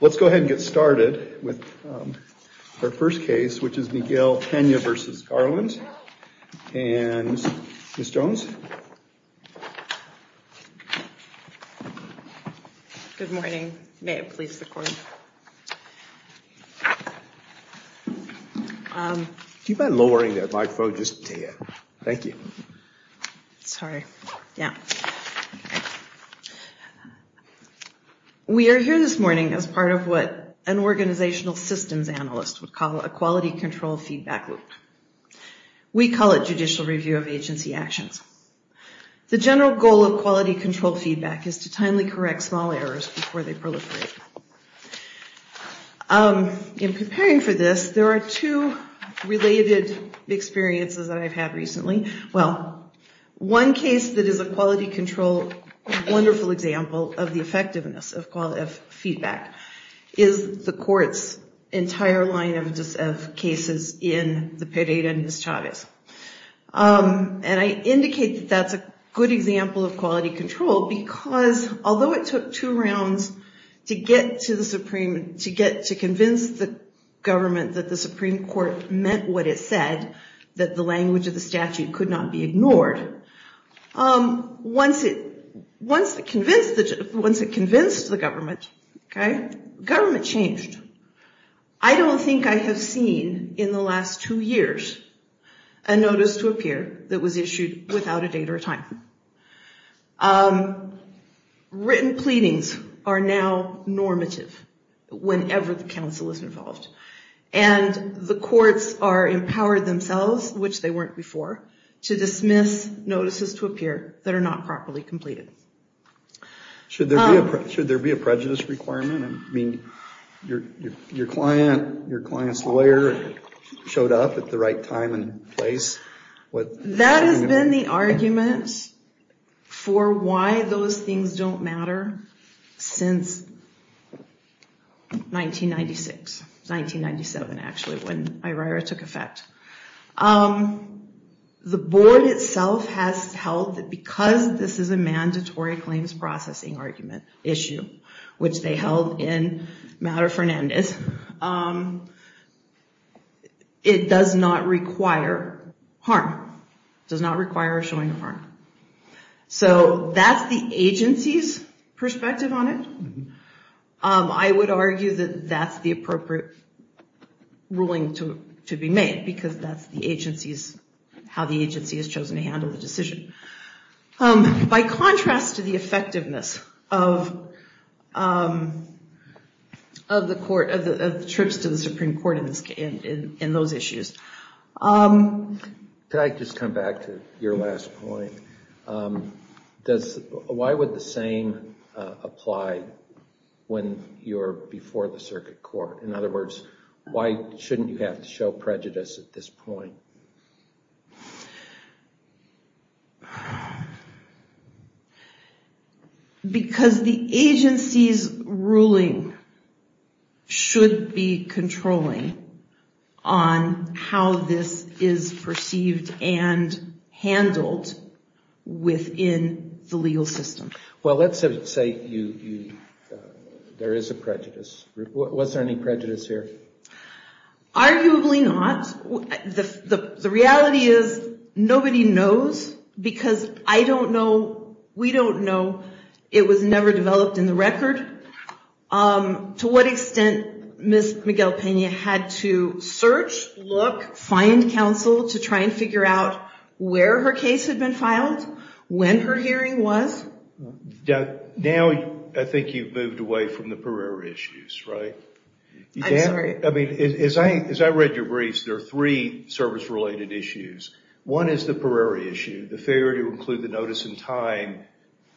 Let's go ahead and get started with our first case, which is Miguel-Pena v. Garland. And Ms. Jones. Good morning. May it please the court. Keep on lowering that microphone just a bit. Thank you. Sorry. Yeah. We are here this morning as part of what an organizational systems analyst would call a quality control feedback loop. We call it judicial review of agency actions. The general goal of quality control feedback is to timely correct small errors before they proliferate. In preparing for this, there are two related experiences that I've had recently. Well, one case that is a quality control wonderful example of the effectiveness of feedback is the court's entire line of cases in the Pereira v. Chavez. And I indicate that that's a good example of quality control because although it took two rounds to get to the Supreme, to get to convince the government that the Supreme Court meant what it said, that the language of the statute could not be ignored, once it convinced the government, government changed. I don't think I have seen in the last two years a notice to appear that was issued without a date or time. Written pleadings are now normative whenever the counsel is involved. And the courts are empowered themselves, which they weren't before, to dismiss notices to appear that are not properly completed. Should there be a prejudice requirement? I mean, your client's lawyer showed up at the right time and place. That has been the argument for why those things don't matter since 1996, 1997 actually, when IRIRA took effect. The board itself has held that because this is a mandatory claims processing argument issue, which they held in Madre Fernandez, it does not require harm. It does not require showing harm. So that's the agency's perspective on it. I would argue that that's the appropriate ruling to be made because that's how the agency has chosen to handle the decision. By contrast to the effectiveness of trips to the Supreme Court in those issues. Could I just come back to your last point? Why would the same apply when you're before the circuit court? In other words, why shouldn't you have to show prejudice at this point? Because the agency's ruling should be controlling on how this is perceived and handled within the legal system. Well, let's say there is a prejudice. Was there any prejudice here? Arguably not. The reality is nobody knows because I don't know, we don't know. It was never developed in the record. To what extent Ms. Miguel-Pena had to search, look, find counsel to try and figure out where her case had been filed, when her hearing was. Now I think you've moved away from the Pereira issues, right? As I read your briefs, there are three service-related issues. One is the Pereira issue, the failure to include the notice in time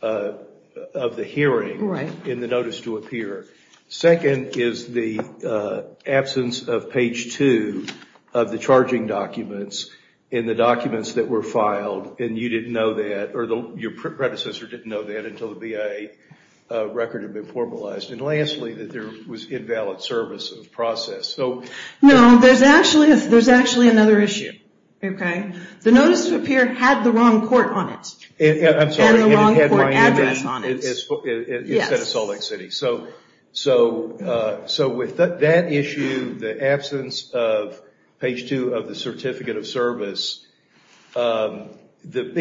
of the hearing in the notice to appear. Second is the absence of page two of the charging documents in the documents that were filed and you didn't know that, or your predecessor didn't know that until the BIA record had been formalized. And lastly, that there was invalid service of process. No, there's actually another issue. The notice to appear had the wrong court on it. I'm sorry, and it had Miami instead of Salt Lake City. So with that issue, the absence of page two of the certificate of service, the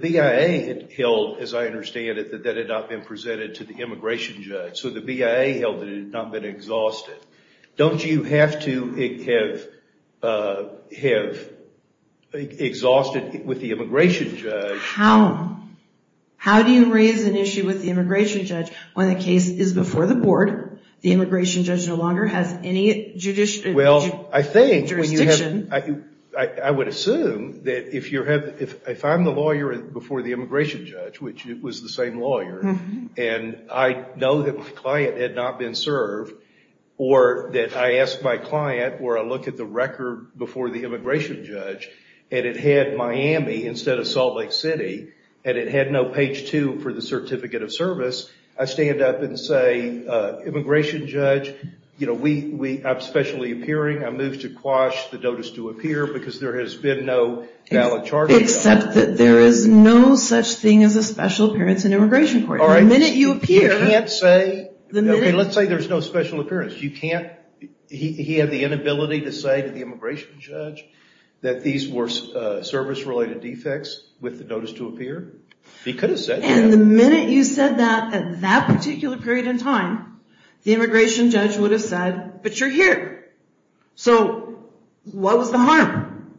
BIA held, as I understand it, that it had not been presented to the immigration judge. So the BIA held that it had not been exhausted. Don't you have to have exhausted with the immigration judge? How do you raise an issue with the immigration judge when the case is before the board, the immigration judge no longer has any jurisdiction? I would assume that if I'm the lawyer before the immigration judge, which was the same lawyer, and I know that my client had not been served, or that I asked my client, where I look at the record before the immigration judge, and it had Miami instead of Salt Lake City, and it had no page two for the certificate of service, I stand up and say, immigration judge, I'm specially appearing, I move to quash the notice to appear, because there has been no valid charge. Except that there is no such thing as a special appearance in immigration court. The minute you appear... Let's say there's no special appearance. You can't... He had the inability to say to the immigration judge that these were service-related defects with the notice to appear. He could have said that. And the minute you said that at that particular period in time, the immigration judge would have said, but you're here. So what was the harm?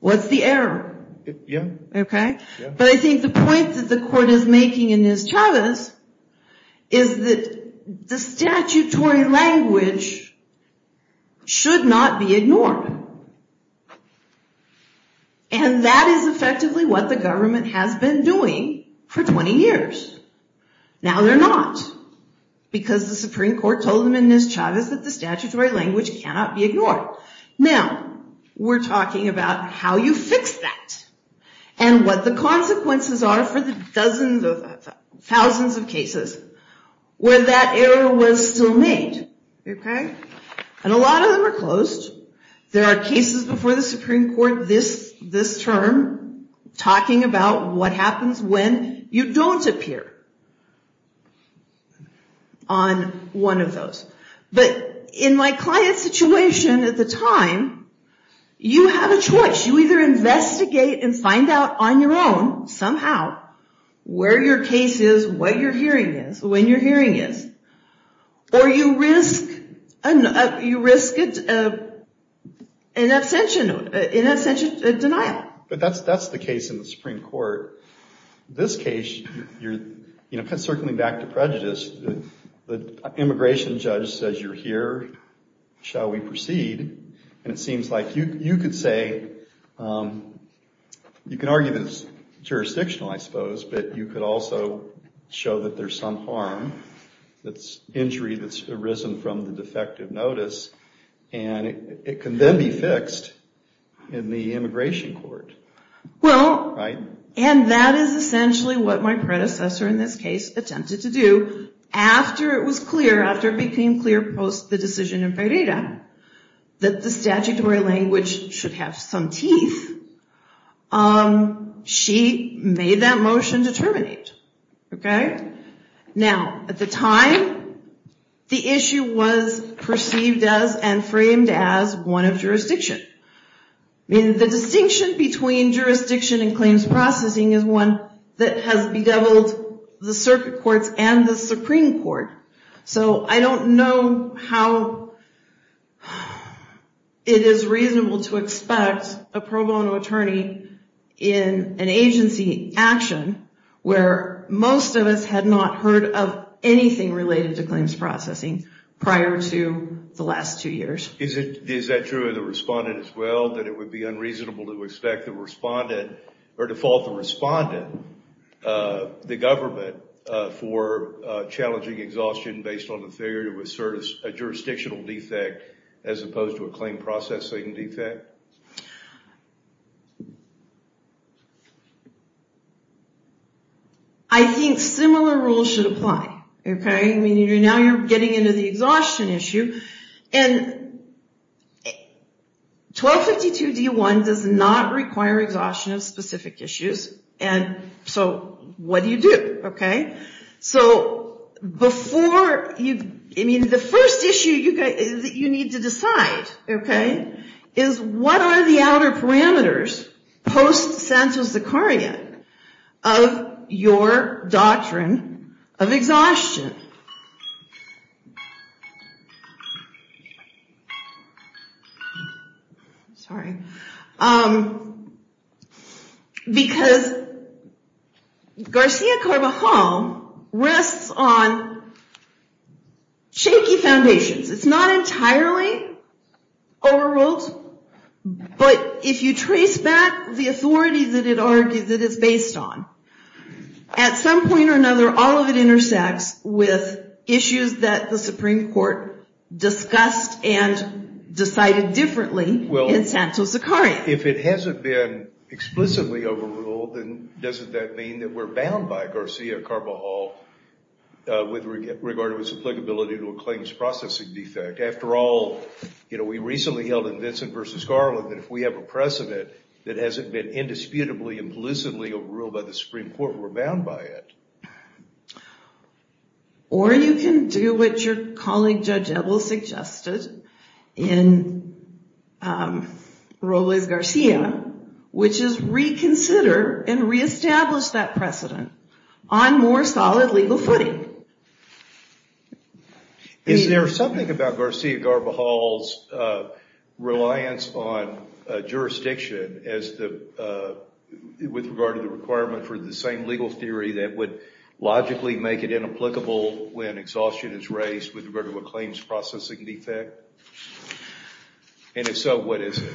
What's the error? Okay. But I think the point that the court is making in this, Chavez, is that the statutory language should not be ignored. And that is effectively what the government has been doing for 20 years. Now they're not. Because the Supreme Court told them in this, Chavez, that the statutory language cannot be ignored. Now, we're talking about how you fix that. And what the consequences are for the thousands of cases where that error was still made. And a lot of them are closed. There are cases before the Supreme Court this term talking about what happens when you don't appear on one of those. But in my client's situation at the time, you have a choice. You either investigate and find out on your own, somehow, where your case is, what your hearing is, when your hearing is. Or you risk an abstention, an abstention denial. But that's the case in the Supreme Court. This case, circling back to prejudice, the immigration judge says, you're here, shall we proceed? And it seems like you could say, you can argue that it's jurisdictional, I suppose, but you could also show that there's some harm, injury that's arisen from the defective notice, and it can then be fixed in the immigration court. Well, and that is essentially what my predecessor in this case attempted to do after it was clear, after it became clear post the decision in Pareda that the statutory language should have some teeth. She made that motion to terminate. Now, at the time, the issue was perceived as and framed as one of jurisdiction. The distinction between jurisdiction and claims processing is one that has bedeviled the circuit courts and the Supreme Court. So I don't know how it is reasonable to expect a pro bono attorney in an agency action where most of us had not heard of anything related to claims processing prior to the last two years. Is that true of the respondent as well, that it would be unreasonable to expect the respondent, or default the respondent, the government, for challenging exhaustion based on the failure to assert a jurisdictional defect as opposed to a claim processing defect? I think similar rules should apply, okay? I mean, now you're getting into the exhaustion issue, and 1252-D1 does not require exhaustion of specific issues, and so what do you do, okay? So before you... I mean, the first issue that you need to decide, okay, is what are the outer parameters post-santos-dekarian of your doctrine of exhaustion? Sorry. Because Garcia-Carvajal rests on shaky foundations. It's not entirely overruled, but if you trace back the authority that it is based on, at some point or another, all of it intersects with issues that the Supreme Court discussed and decided differently in santos-dekarian. Well, if it hasn't been explicitly overruled, then doesn't that mean that we're bound by Garcia-Carvajal with regard to its applicability to a claims processing defect? After all, you know, we recently held in Vincent v. Garland that if we have a precedent that hasn't been indisputably implicitly overruled by the Supreme Court, we're bound by it. Or you can do what your colleague Judge Ebel suggested in Robles-Garcia, which is reconsider and reestablish that precedent on more solid legal footing. Is there something about Garcia-Carvajal's reliance on jurisdiction as the... with regard to the requirement for the same legal theory that would logically make it inapplicable when exhaustion is raised with regard to a claims processing defect? And if so, what is it?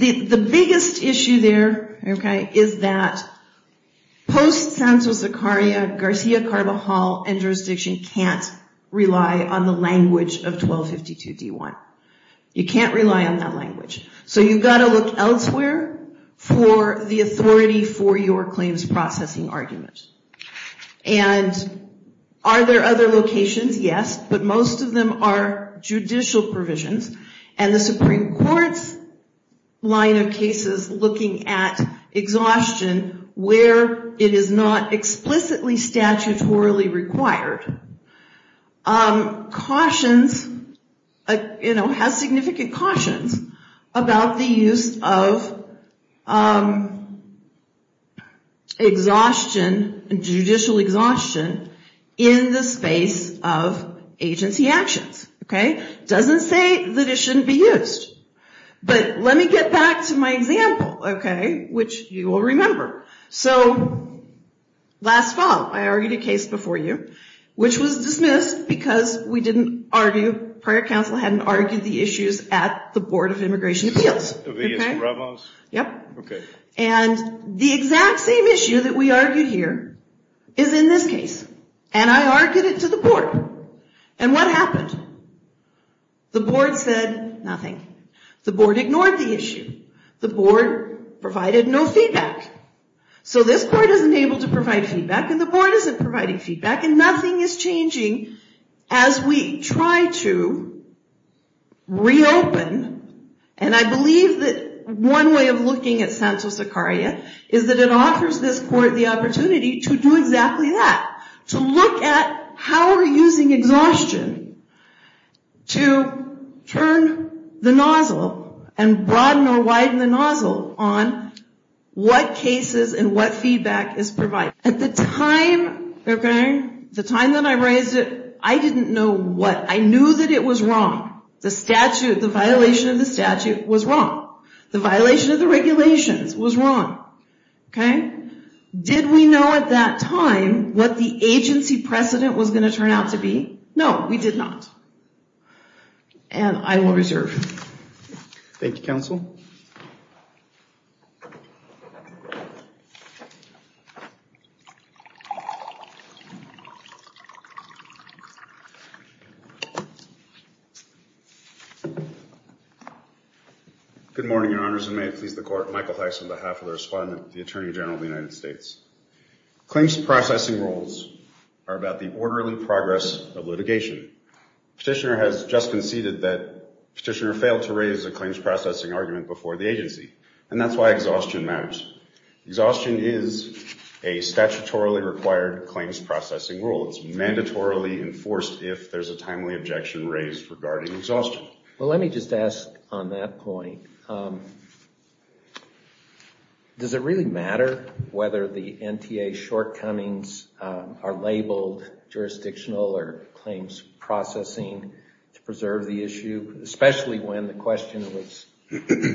The biggest issue there, okay, is that post-Santos Zecaria, Garcia-Carvajal and jurisdiction can't rely on the language of 1252 D1. You can't rely on that language. So you've got to look elsewhere for the authority for your claims processing argument. And are there other locations? Yes. But most of them are judicial provisions. And the Supreme Court's line of cases looking at exhaustion where it is not explicitly statutorily required has significant cautions about the use of judicial exhaustion in the space of agency actions. It doesn't say that it shouldn't be used. But let me get back to my example, okay, which you will remember. So, last fall, I argued a case before you which was dismissed because we didn't argue, prior counsel hadn't argued the issues at the Board of Immigration Appeals. And the exact same issue that we argued here is in this case. And I argued it to the board. And what happened? The board said nothing. The board ignored the issue. The board provided no feedback. So this court isn't able to provide feedback, and the board isn't providing feedback, and nothing is changing as we try to reopen. And I believe that one way of looking at sensu saccaria is that it offers this court the opportunity to do exactly that. To look at how we're using exhaustion to turn the nozzle and broaden or widen the nozzle on what cases and what feedback is provided. At the time that I raised it, I didn't know what. I knew that it was wrong. The violation of the statute was wrong. The violation of the regulations was wrong. Did we know at that time what the agency precedent was going to turn out to be? No, we did not. And I will reserve. Thank you, counsel. Good morning, Your Honors, and may it please the court, Michael Tyson on behalf of the respondent, the Attorney General of the United States. Claims processing rules are about the orderly progress of litigation. Petitioner has just conceded that petitioner failed to raise a claims processing argument before the agency, and that's why exhaustion matters. Exhaustion is a statutorily required claims processing rule. It's mandatorily enforced if there's a timely objection raised regarding exhaustion. Well, let me just ask on that point, does it really matter whether the NTA shortcomings are labeled jurisdictional or claims processing to preserve the issue, especially when the question was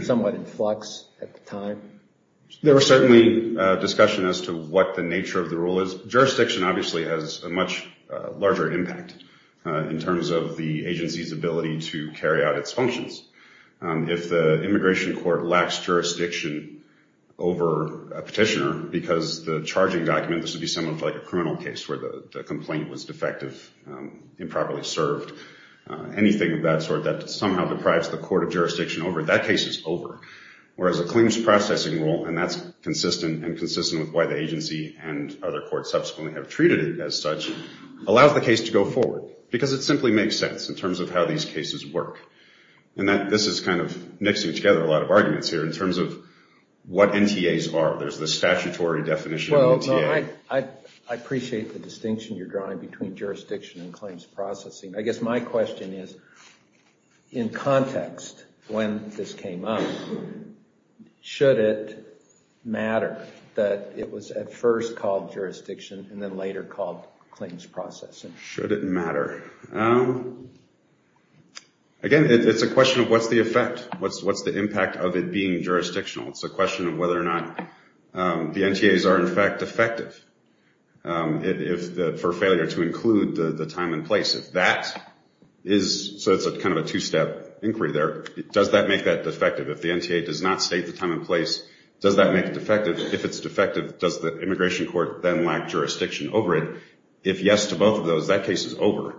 somewhat in flux at the time? There was certainly discussion as to what the nature of the rule is. Jurisdiction obviously has a much larger impact in terms of the agency's ability to carry out its functions. If the immigration court lacks jurisdiction over a petitioner because the charging document, this would be somewhat like a criminal case where the complaint was defective, improperly served, anything of that sort that somehow deprives the court of jurisdiction over it, that case is over, whereas a claims processing rule, and that's consistent and consistent with why the agency and other courts subsequently have treated it as such, allows the case to go forward because it simply makes sense in terms of how these cases work. This is kind of mixing together a lot of arguments here in terms of what NTAs are. There's the statutory definition of an NTA. I appreciate the distinction you're drawing between jurisdiction and claims processing. I guess my question is, in context, when this came up, should it matter that it was at first called jurisdiction and then later called claims processing? Should it matter? Again, it's a question of what's the effect? What's the impact of it being jurisdictional? It's a question of whether or not the NTAs are in fact defective for failure to include the time and place. So it's kind of a two-step inquiry there. Does that make that defective? If the NTA does not state the time and place, does that make it defective? If it's defective, does the immigration court then lack jurisdiction over it? If yes to both of those, that case is over.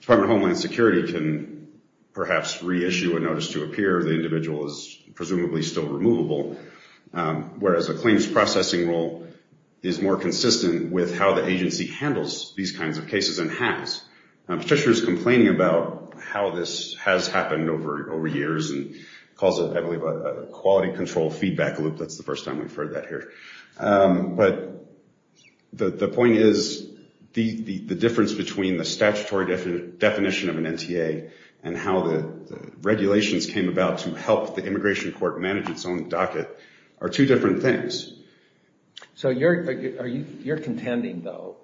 Department of Homeland Security can perhaps reissue a notice to appear. The individual is presumably still removable, whereas a claims processing role is more consistent with how the agency handles these kinds of cases and has. Patricia was complaining about how this has happened over years and calls it, I believe, a quality control feedback loop. That's the first time we've heard that here. But the point is the difference between the statutory definition of an NTA and how the regulations came about to help the immigration court manage its own docket are two different things. So you're contending, though,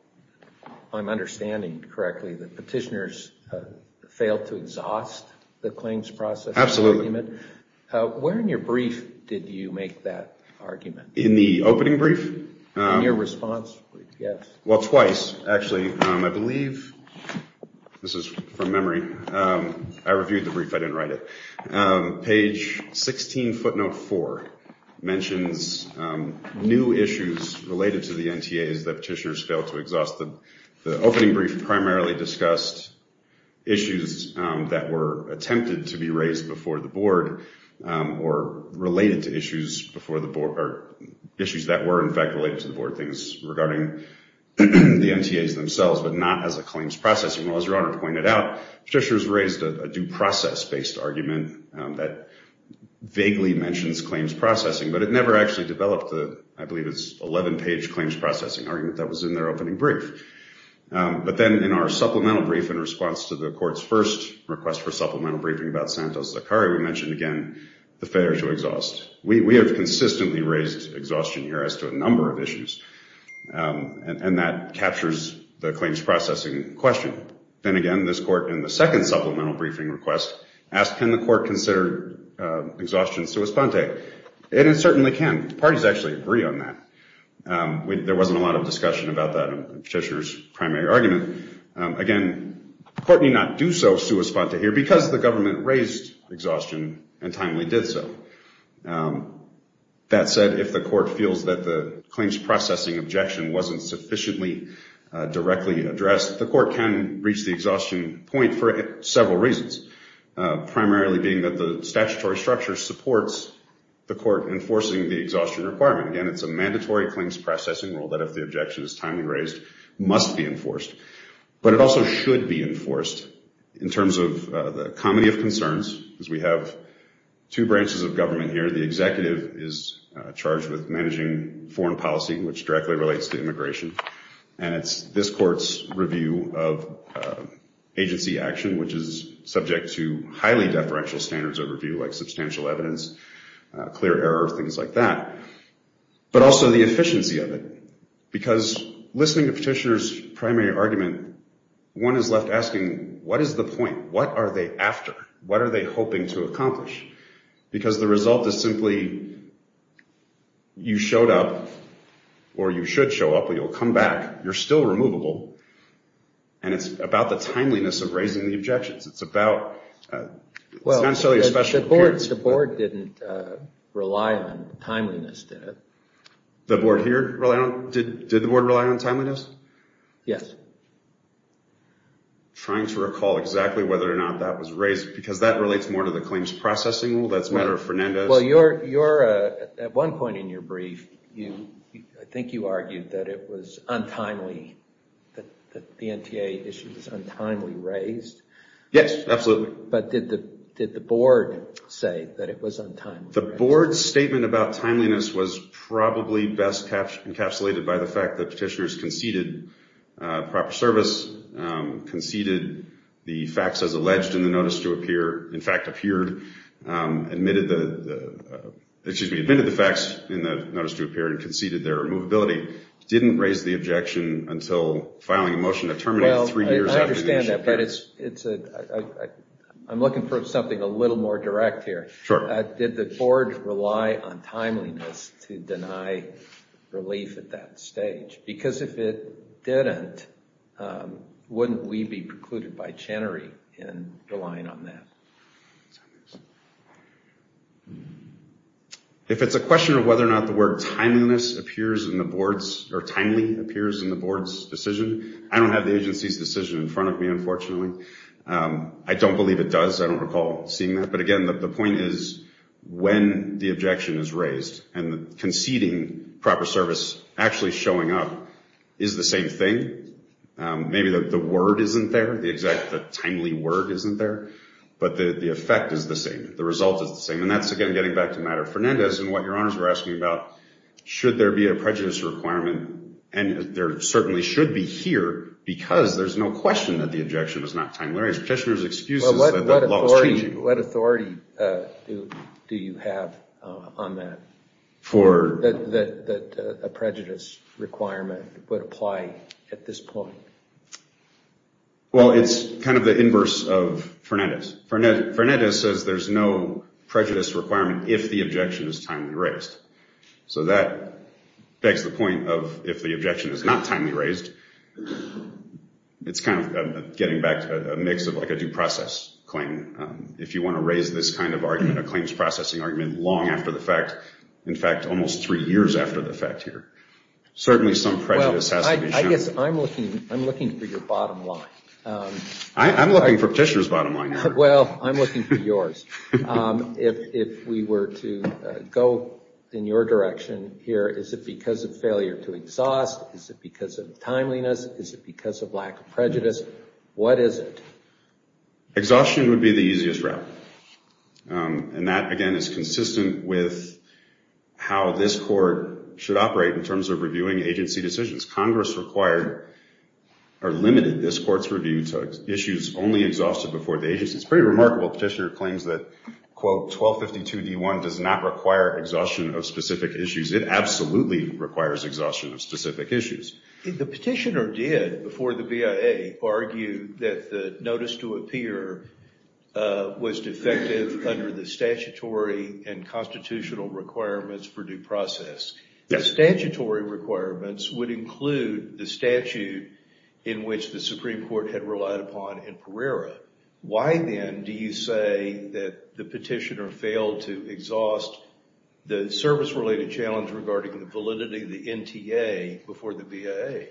if I'm understanding correctly, that petitioners failed to exhaust the claims processing argument. Where in your brief did you make that argument? In the opening brief? Well, twice, actually. I believe this is from memory. I reviewed the brief. I didn't write it. Page 16 footnote 4 mentions new issues related to the NTAs that petitioners failed to exhaust. The opening brief primarily discussed issues that were attempted to be raised before the board or related to issues that were in fact related to the board things regarding the NTAs themselves but not as a claims processing. Well, as Your Honor pointed out, petitioners raised a due process based argument that vaguely mentions claims processing but it never actually developed the, I believe it's 11 page claims processing argument that was in their opening brief. But then in our supplemental brief in response to the court's first request for supplemental briefing about Santos-Zachari, we mentioned again the failure to exhaust. We have consistently raised exhaustion here as to a number of issues and that captures the claims processing question. Then again, this court in the second supplemental briefing request asked, can the court consider exhaustion sui sponte? It certainly can. Parties actually agree on that. There wasn't a lot of discussion about that in petitioner's primary argument. Again, the court may not do so sui sponte here because the government raised exhaustion and timely did so. That said, if the court feels that the claims processing objection wasn't sufficiently directly addressed, the court can reach the exhaustion point for several reasons. Primarily being that the statutory structure supports the court enforcing the exhaustion requirement. Again, it's a mandatory claims processing rule that if the objection is timely raised, must be enforced. But it also should be enforced in terms of the comedy of concerns because we have two branches of government here. The executive is charged with managing foreign policy, which directly relates to immigration. And it's this court's review of agency action which is subject to highly deferential standards of review like substantial evidence, clear error, things like that. But also the efficiency of it because listening to petitioner's primary argument, one is left asking what is the point? What are they after? What are they hoping to accomplish? Because the result is simply you showed up or you should show up or you'll come back. You're still removable and it's about the timeliness of raising the objections. It's about... The board didn't rely on timeliness, did it? Did the board rely on timeliness? Yes. Trying to recall exactly whether or not that was raised because that relates more to the claims processing rule. That's a matter of Fernandez. At one point in your brief, I think you argued that it was untimely, that the Yes, absolutely. But did the board say that it was untimely? The board's statement about timeliness was probably best encapsulated by the fact that petitioner's conceded proper service, conceded the facts as alleged in the notice to appear, in fact appeared, admitted the facts in the notice to appear and conceded their removability. Didn't raise the objection until filing a motion that terminated three years after the issue appeared. I'm looking for something a little more direct here. Did the board rely on timeliness to deny relief at that stage? Because if it didn't, wouldn't we be precluded by Chenery in relying on that? If it's a question of whether or not the word timeliness appears in the board's or timely appears in the board's decision, I don't have the agency's decision in front of me, unfortunately. I don't believe it does. I don't recall seeing that. But again, the point is when the objection is raised and conceding proper service actually showing up is the same thing. Maybe the word isn't there, the exact timely word isn't there, but the effect is the same. Should there be a prejudice requirement? And there certainly should be here because there's no question that the objection is not timely. What authority do you have on that? That a prejudice requirement would apply at this point? Well, it's kind of the inverse of Fernandez. Fernandez says there's no prejudice requirement if the objection is timely raised. So that begs the point of if the objection is not timely raised, it's kind of getting back to a mix of a due process claim. If you want to raise this kind of argument, a claims processing argument long after the fact, in fact almost three years after the fact here, certainly some prejudice has to be shown. Well, I guess I'm looking for your bottom line. I'm looking for Petitioner's bottom line. Well, I'm looking for yours. If we were to go in your direction here, is it because of failure to exhaust? Is it because of timeliness? Is it because of lack of prejudice? What is it? Exhaustion would be the easiest route. And that, again, is consistent with how this Congress required, or limited, this Court's review to issues only exhausted before the agency. It's pretty remarkable Petitioner claims that, quote, 1252D1 does not require exhaustion of specific issues. It absolutely requires exhaustion of specific issues. The Petitioner did, before the BIA, argue that the notice to appear was defective under the statutory and constitutional requirements for due process. The statutory requirements would include the statute in which the Supreme Court had relied upon in Pereira. Why, then, do you say that the Petitioner failed to exhaust the service-related challenge regarding the validity of the NTA before the BIA?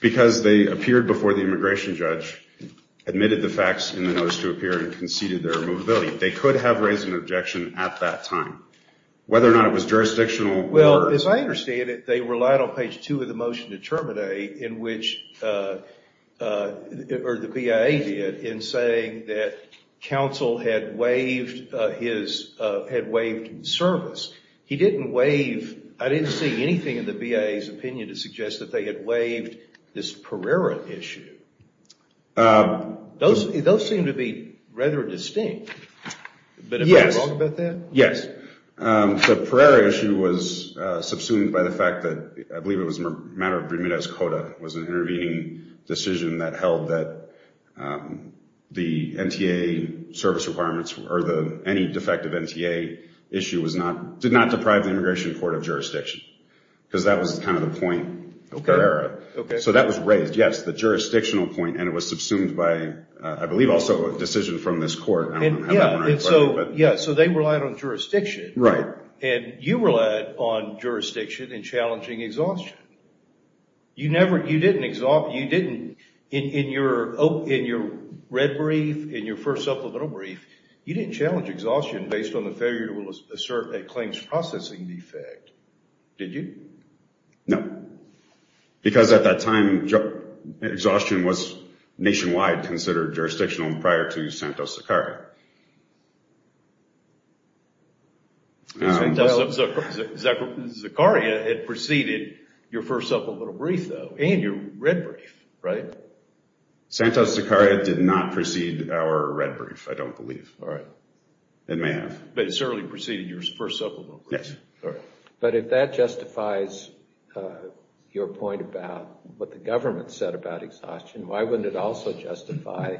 Because they appeared before the immigration judge, admitted the facts in the notice to appear, and conceded their movability. They could have raised an objection at that time. Whether or not it was jurisdictional. Well, as I understand it, they relied on page 2 of the motion to terminate in which, or the BIA did, in saying that counsel had waived service. He didn't waive, I didn't see anything in the BIA's opinion to suggest that they had waived this Pereira issue. Those seem to be rather distinct. Yes. The Pereira issue was subsumed by the fact that I believe it was a matter of Bermudez-Cota, it was an intervening decision that held that the NTA service requirements or any defective NTA issue did not deprive the immigration court of jurisdiction. Because that was kind of the point of Pereira. So that was raised, yes, the jurisdictional point, and it was subsumed by I believe also a decision from this court. So they relied on jurisdiction. And you relied on jurisdiction in challenging exhaustion. You didn't in your red brief, in your first supplemental brief, you didn't challenge exhaustion based on the failure to assert a claims processing defect, did you? No. Because at that time, exhaustion was nationwide considered jurisdictional prior to Santos-Zacaria. Zacaria had preceded your first supplemental brief, though, and your red brief, right? Santos-Zacaria did not precede our red brief, I don't believe. But it certainly preceded your first supplemental brief. But if that justifies your point about what the government said about exhaustion, why wouldn't it also justify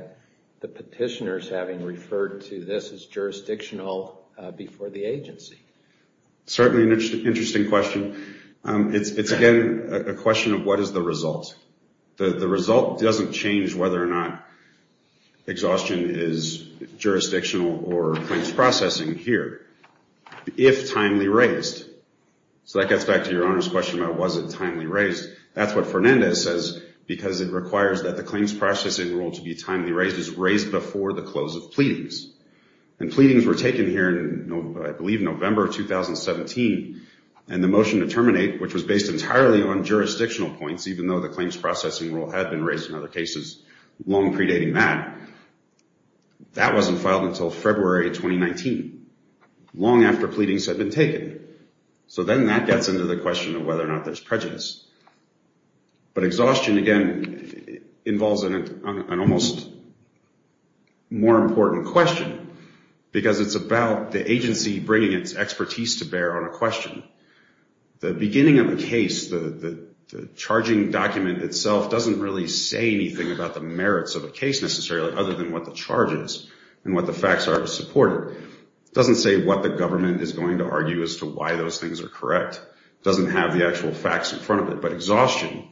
the petitioners having referred to this as jurisdictional before the agency? Certainly an interesting question. It's again a question of what is the result. The result doesn't change whether or not exhaustion is jurisdictional or claims processing here. If timely raised. So that gets back to your Honor's question about was it timely raised. That's what Fernandez says, because it requires that the claims processing rule to be timely raised is raised before the close of pleadings. And pleadings were taken here in I believe November 2017, and the motion to terminate, which was based entirely on jurisdictional points, even though the claims processing rule had been raised in other cases long predating that, that wasn't filed until February 2019, long after pleadings had been taken. So then that gets into the question of whether or not there's prejudice. But exhaustion again involves an almost more important question, because it's about the agency bringing its expertise to bear on a question. The beginning of a case, the charging document itself doesn't really say anything about the merits of a case necessarily, other than what the charge is and what the facts are to support it. It doesn't say what the government is going to argue as to why those things are correct. It doesn't have the actual facts in front of it. But exhaustion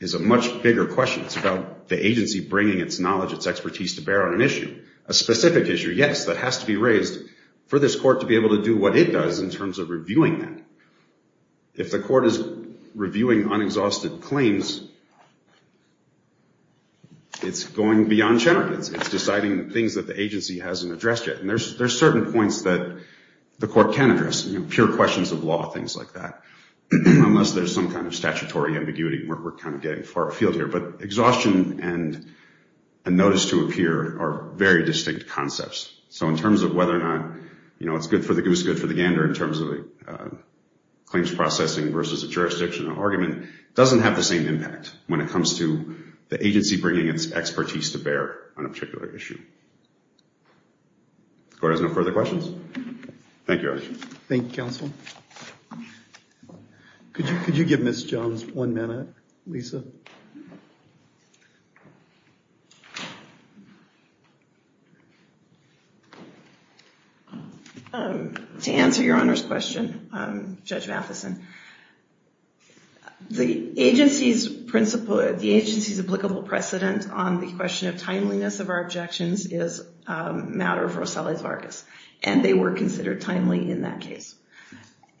is a much bigger question. It's about the agency bringing its knowledge, its expertise to bear on an issue. A specific issue, yes, that has to be raised for this court to be able to do what it does in terms of reviewing that. If the court is reviewing unexhausted claims, it's going beyond charges. It's deciding things that the agency hasn't addressed yet. And there's certain points that the court can address. Pure questions of law, things like that. Unless there's some kind of statutory ambiguity, we're kind of getting far afield here. But exhaustion and a notice to appear are very distinct concepts. So in terms of whether or not it's good for the goose, good for the gander, in terms of claims processing versus a jurisdictional argument, it doesn't have the same impact when it comes to the agency bringing its expertise to bear on a particular issue. Court has no further questions? Thank you. Thank you, counsel. Could you give Ms. Jones one minute, Lisa? To answer your Honor's question, Judge Matheson, the agency's applicable precedent on the question of timeliness of our objections is a matter of Rosselli-Targus. And they were considered timely in that case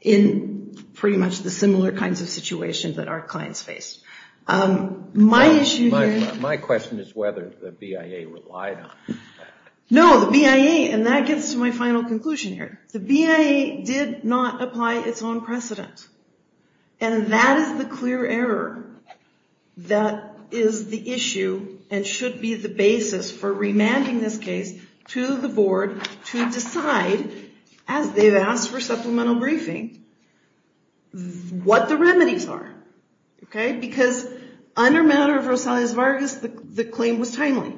in pretty much the similar kinds of situations that our clients faced. In the case of Rosselli-Targus, my question is whether the BIA relied on that. No, the BIA, and that gets to my final conclusion here, the BIA did not apply its own precedent. And that is the clear error that is the issue and should be the basis for remanding this case to the board to decide, as they've asked for supplemental briefing, what the remedies are. Because under matter of Rosselli-Targus, the claim was timely.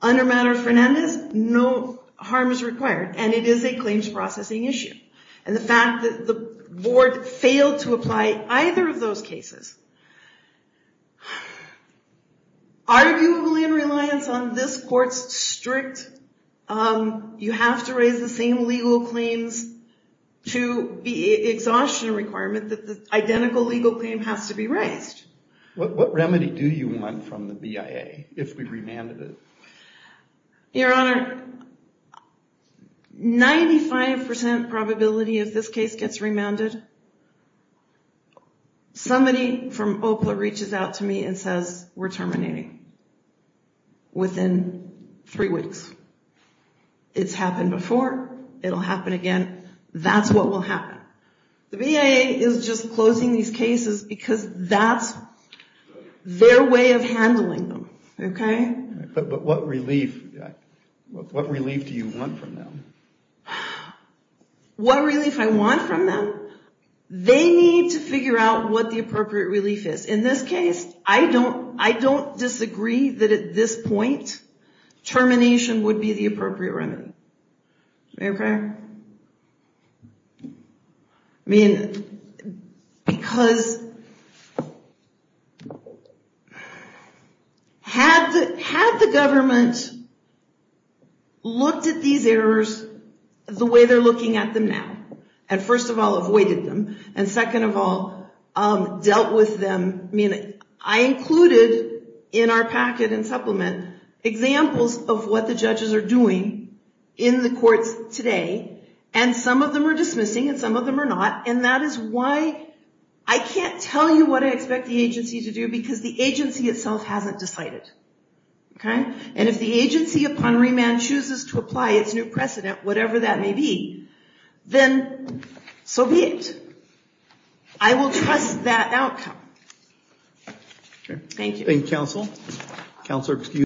Under matter of Fernandez, no harm is required and it is a claims processing issue. And the fact that the board failed to apply either of those cases, arguably in reliance on this court's strict, you have to raise the same legal claims to the exhaustion requirement that the identical legal claim has to be raised. What remedy do you want from the BIA if we remanded it? Your Honor, 95% probability if this case gets remanded, somebody from OPLA reaches out to me and says, we're terminating within three weeks. It's happened before, it'll happen again, that's what will happen. The BIA is just closing these cases because that's their way of handling them. But what relief do you want from them? What relief do I want from them? They need to figure out what the appropriate relief is. In this case, I don't disagree that at this point, termination would be the appropriate remedy. Had the government looked at these errors the way they're looking at them now and first of all, avoided them and second of all, dealt with them I included in our packet and supplement examples of what the judges are doing in the courts today and some of them are dismissing and some of them are not I can't tell you what I expect the agency to do because the agency itself hasn't decided. If the agency upon remand chooses to apply its new precedent, whatever that may be then so be it. I will trust that outcome. Thank you.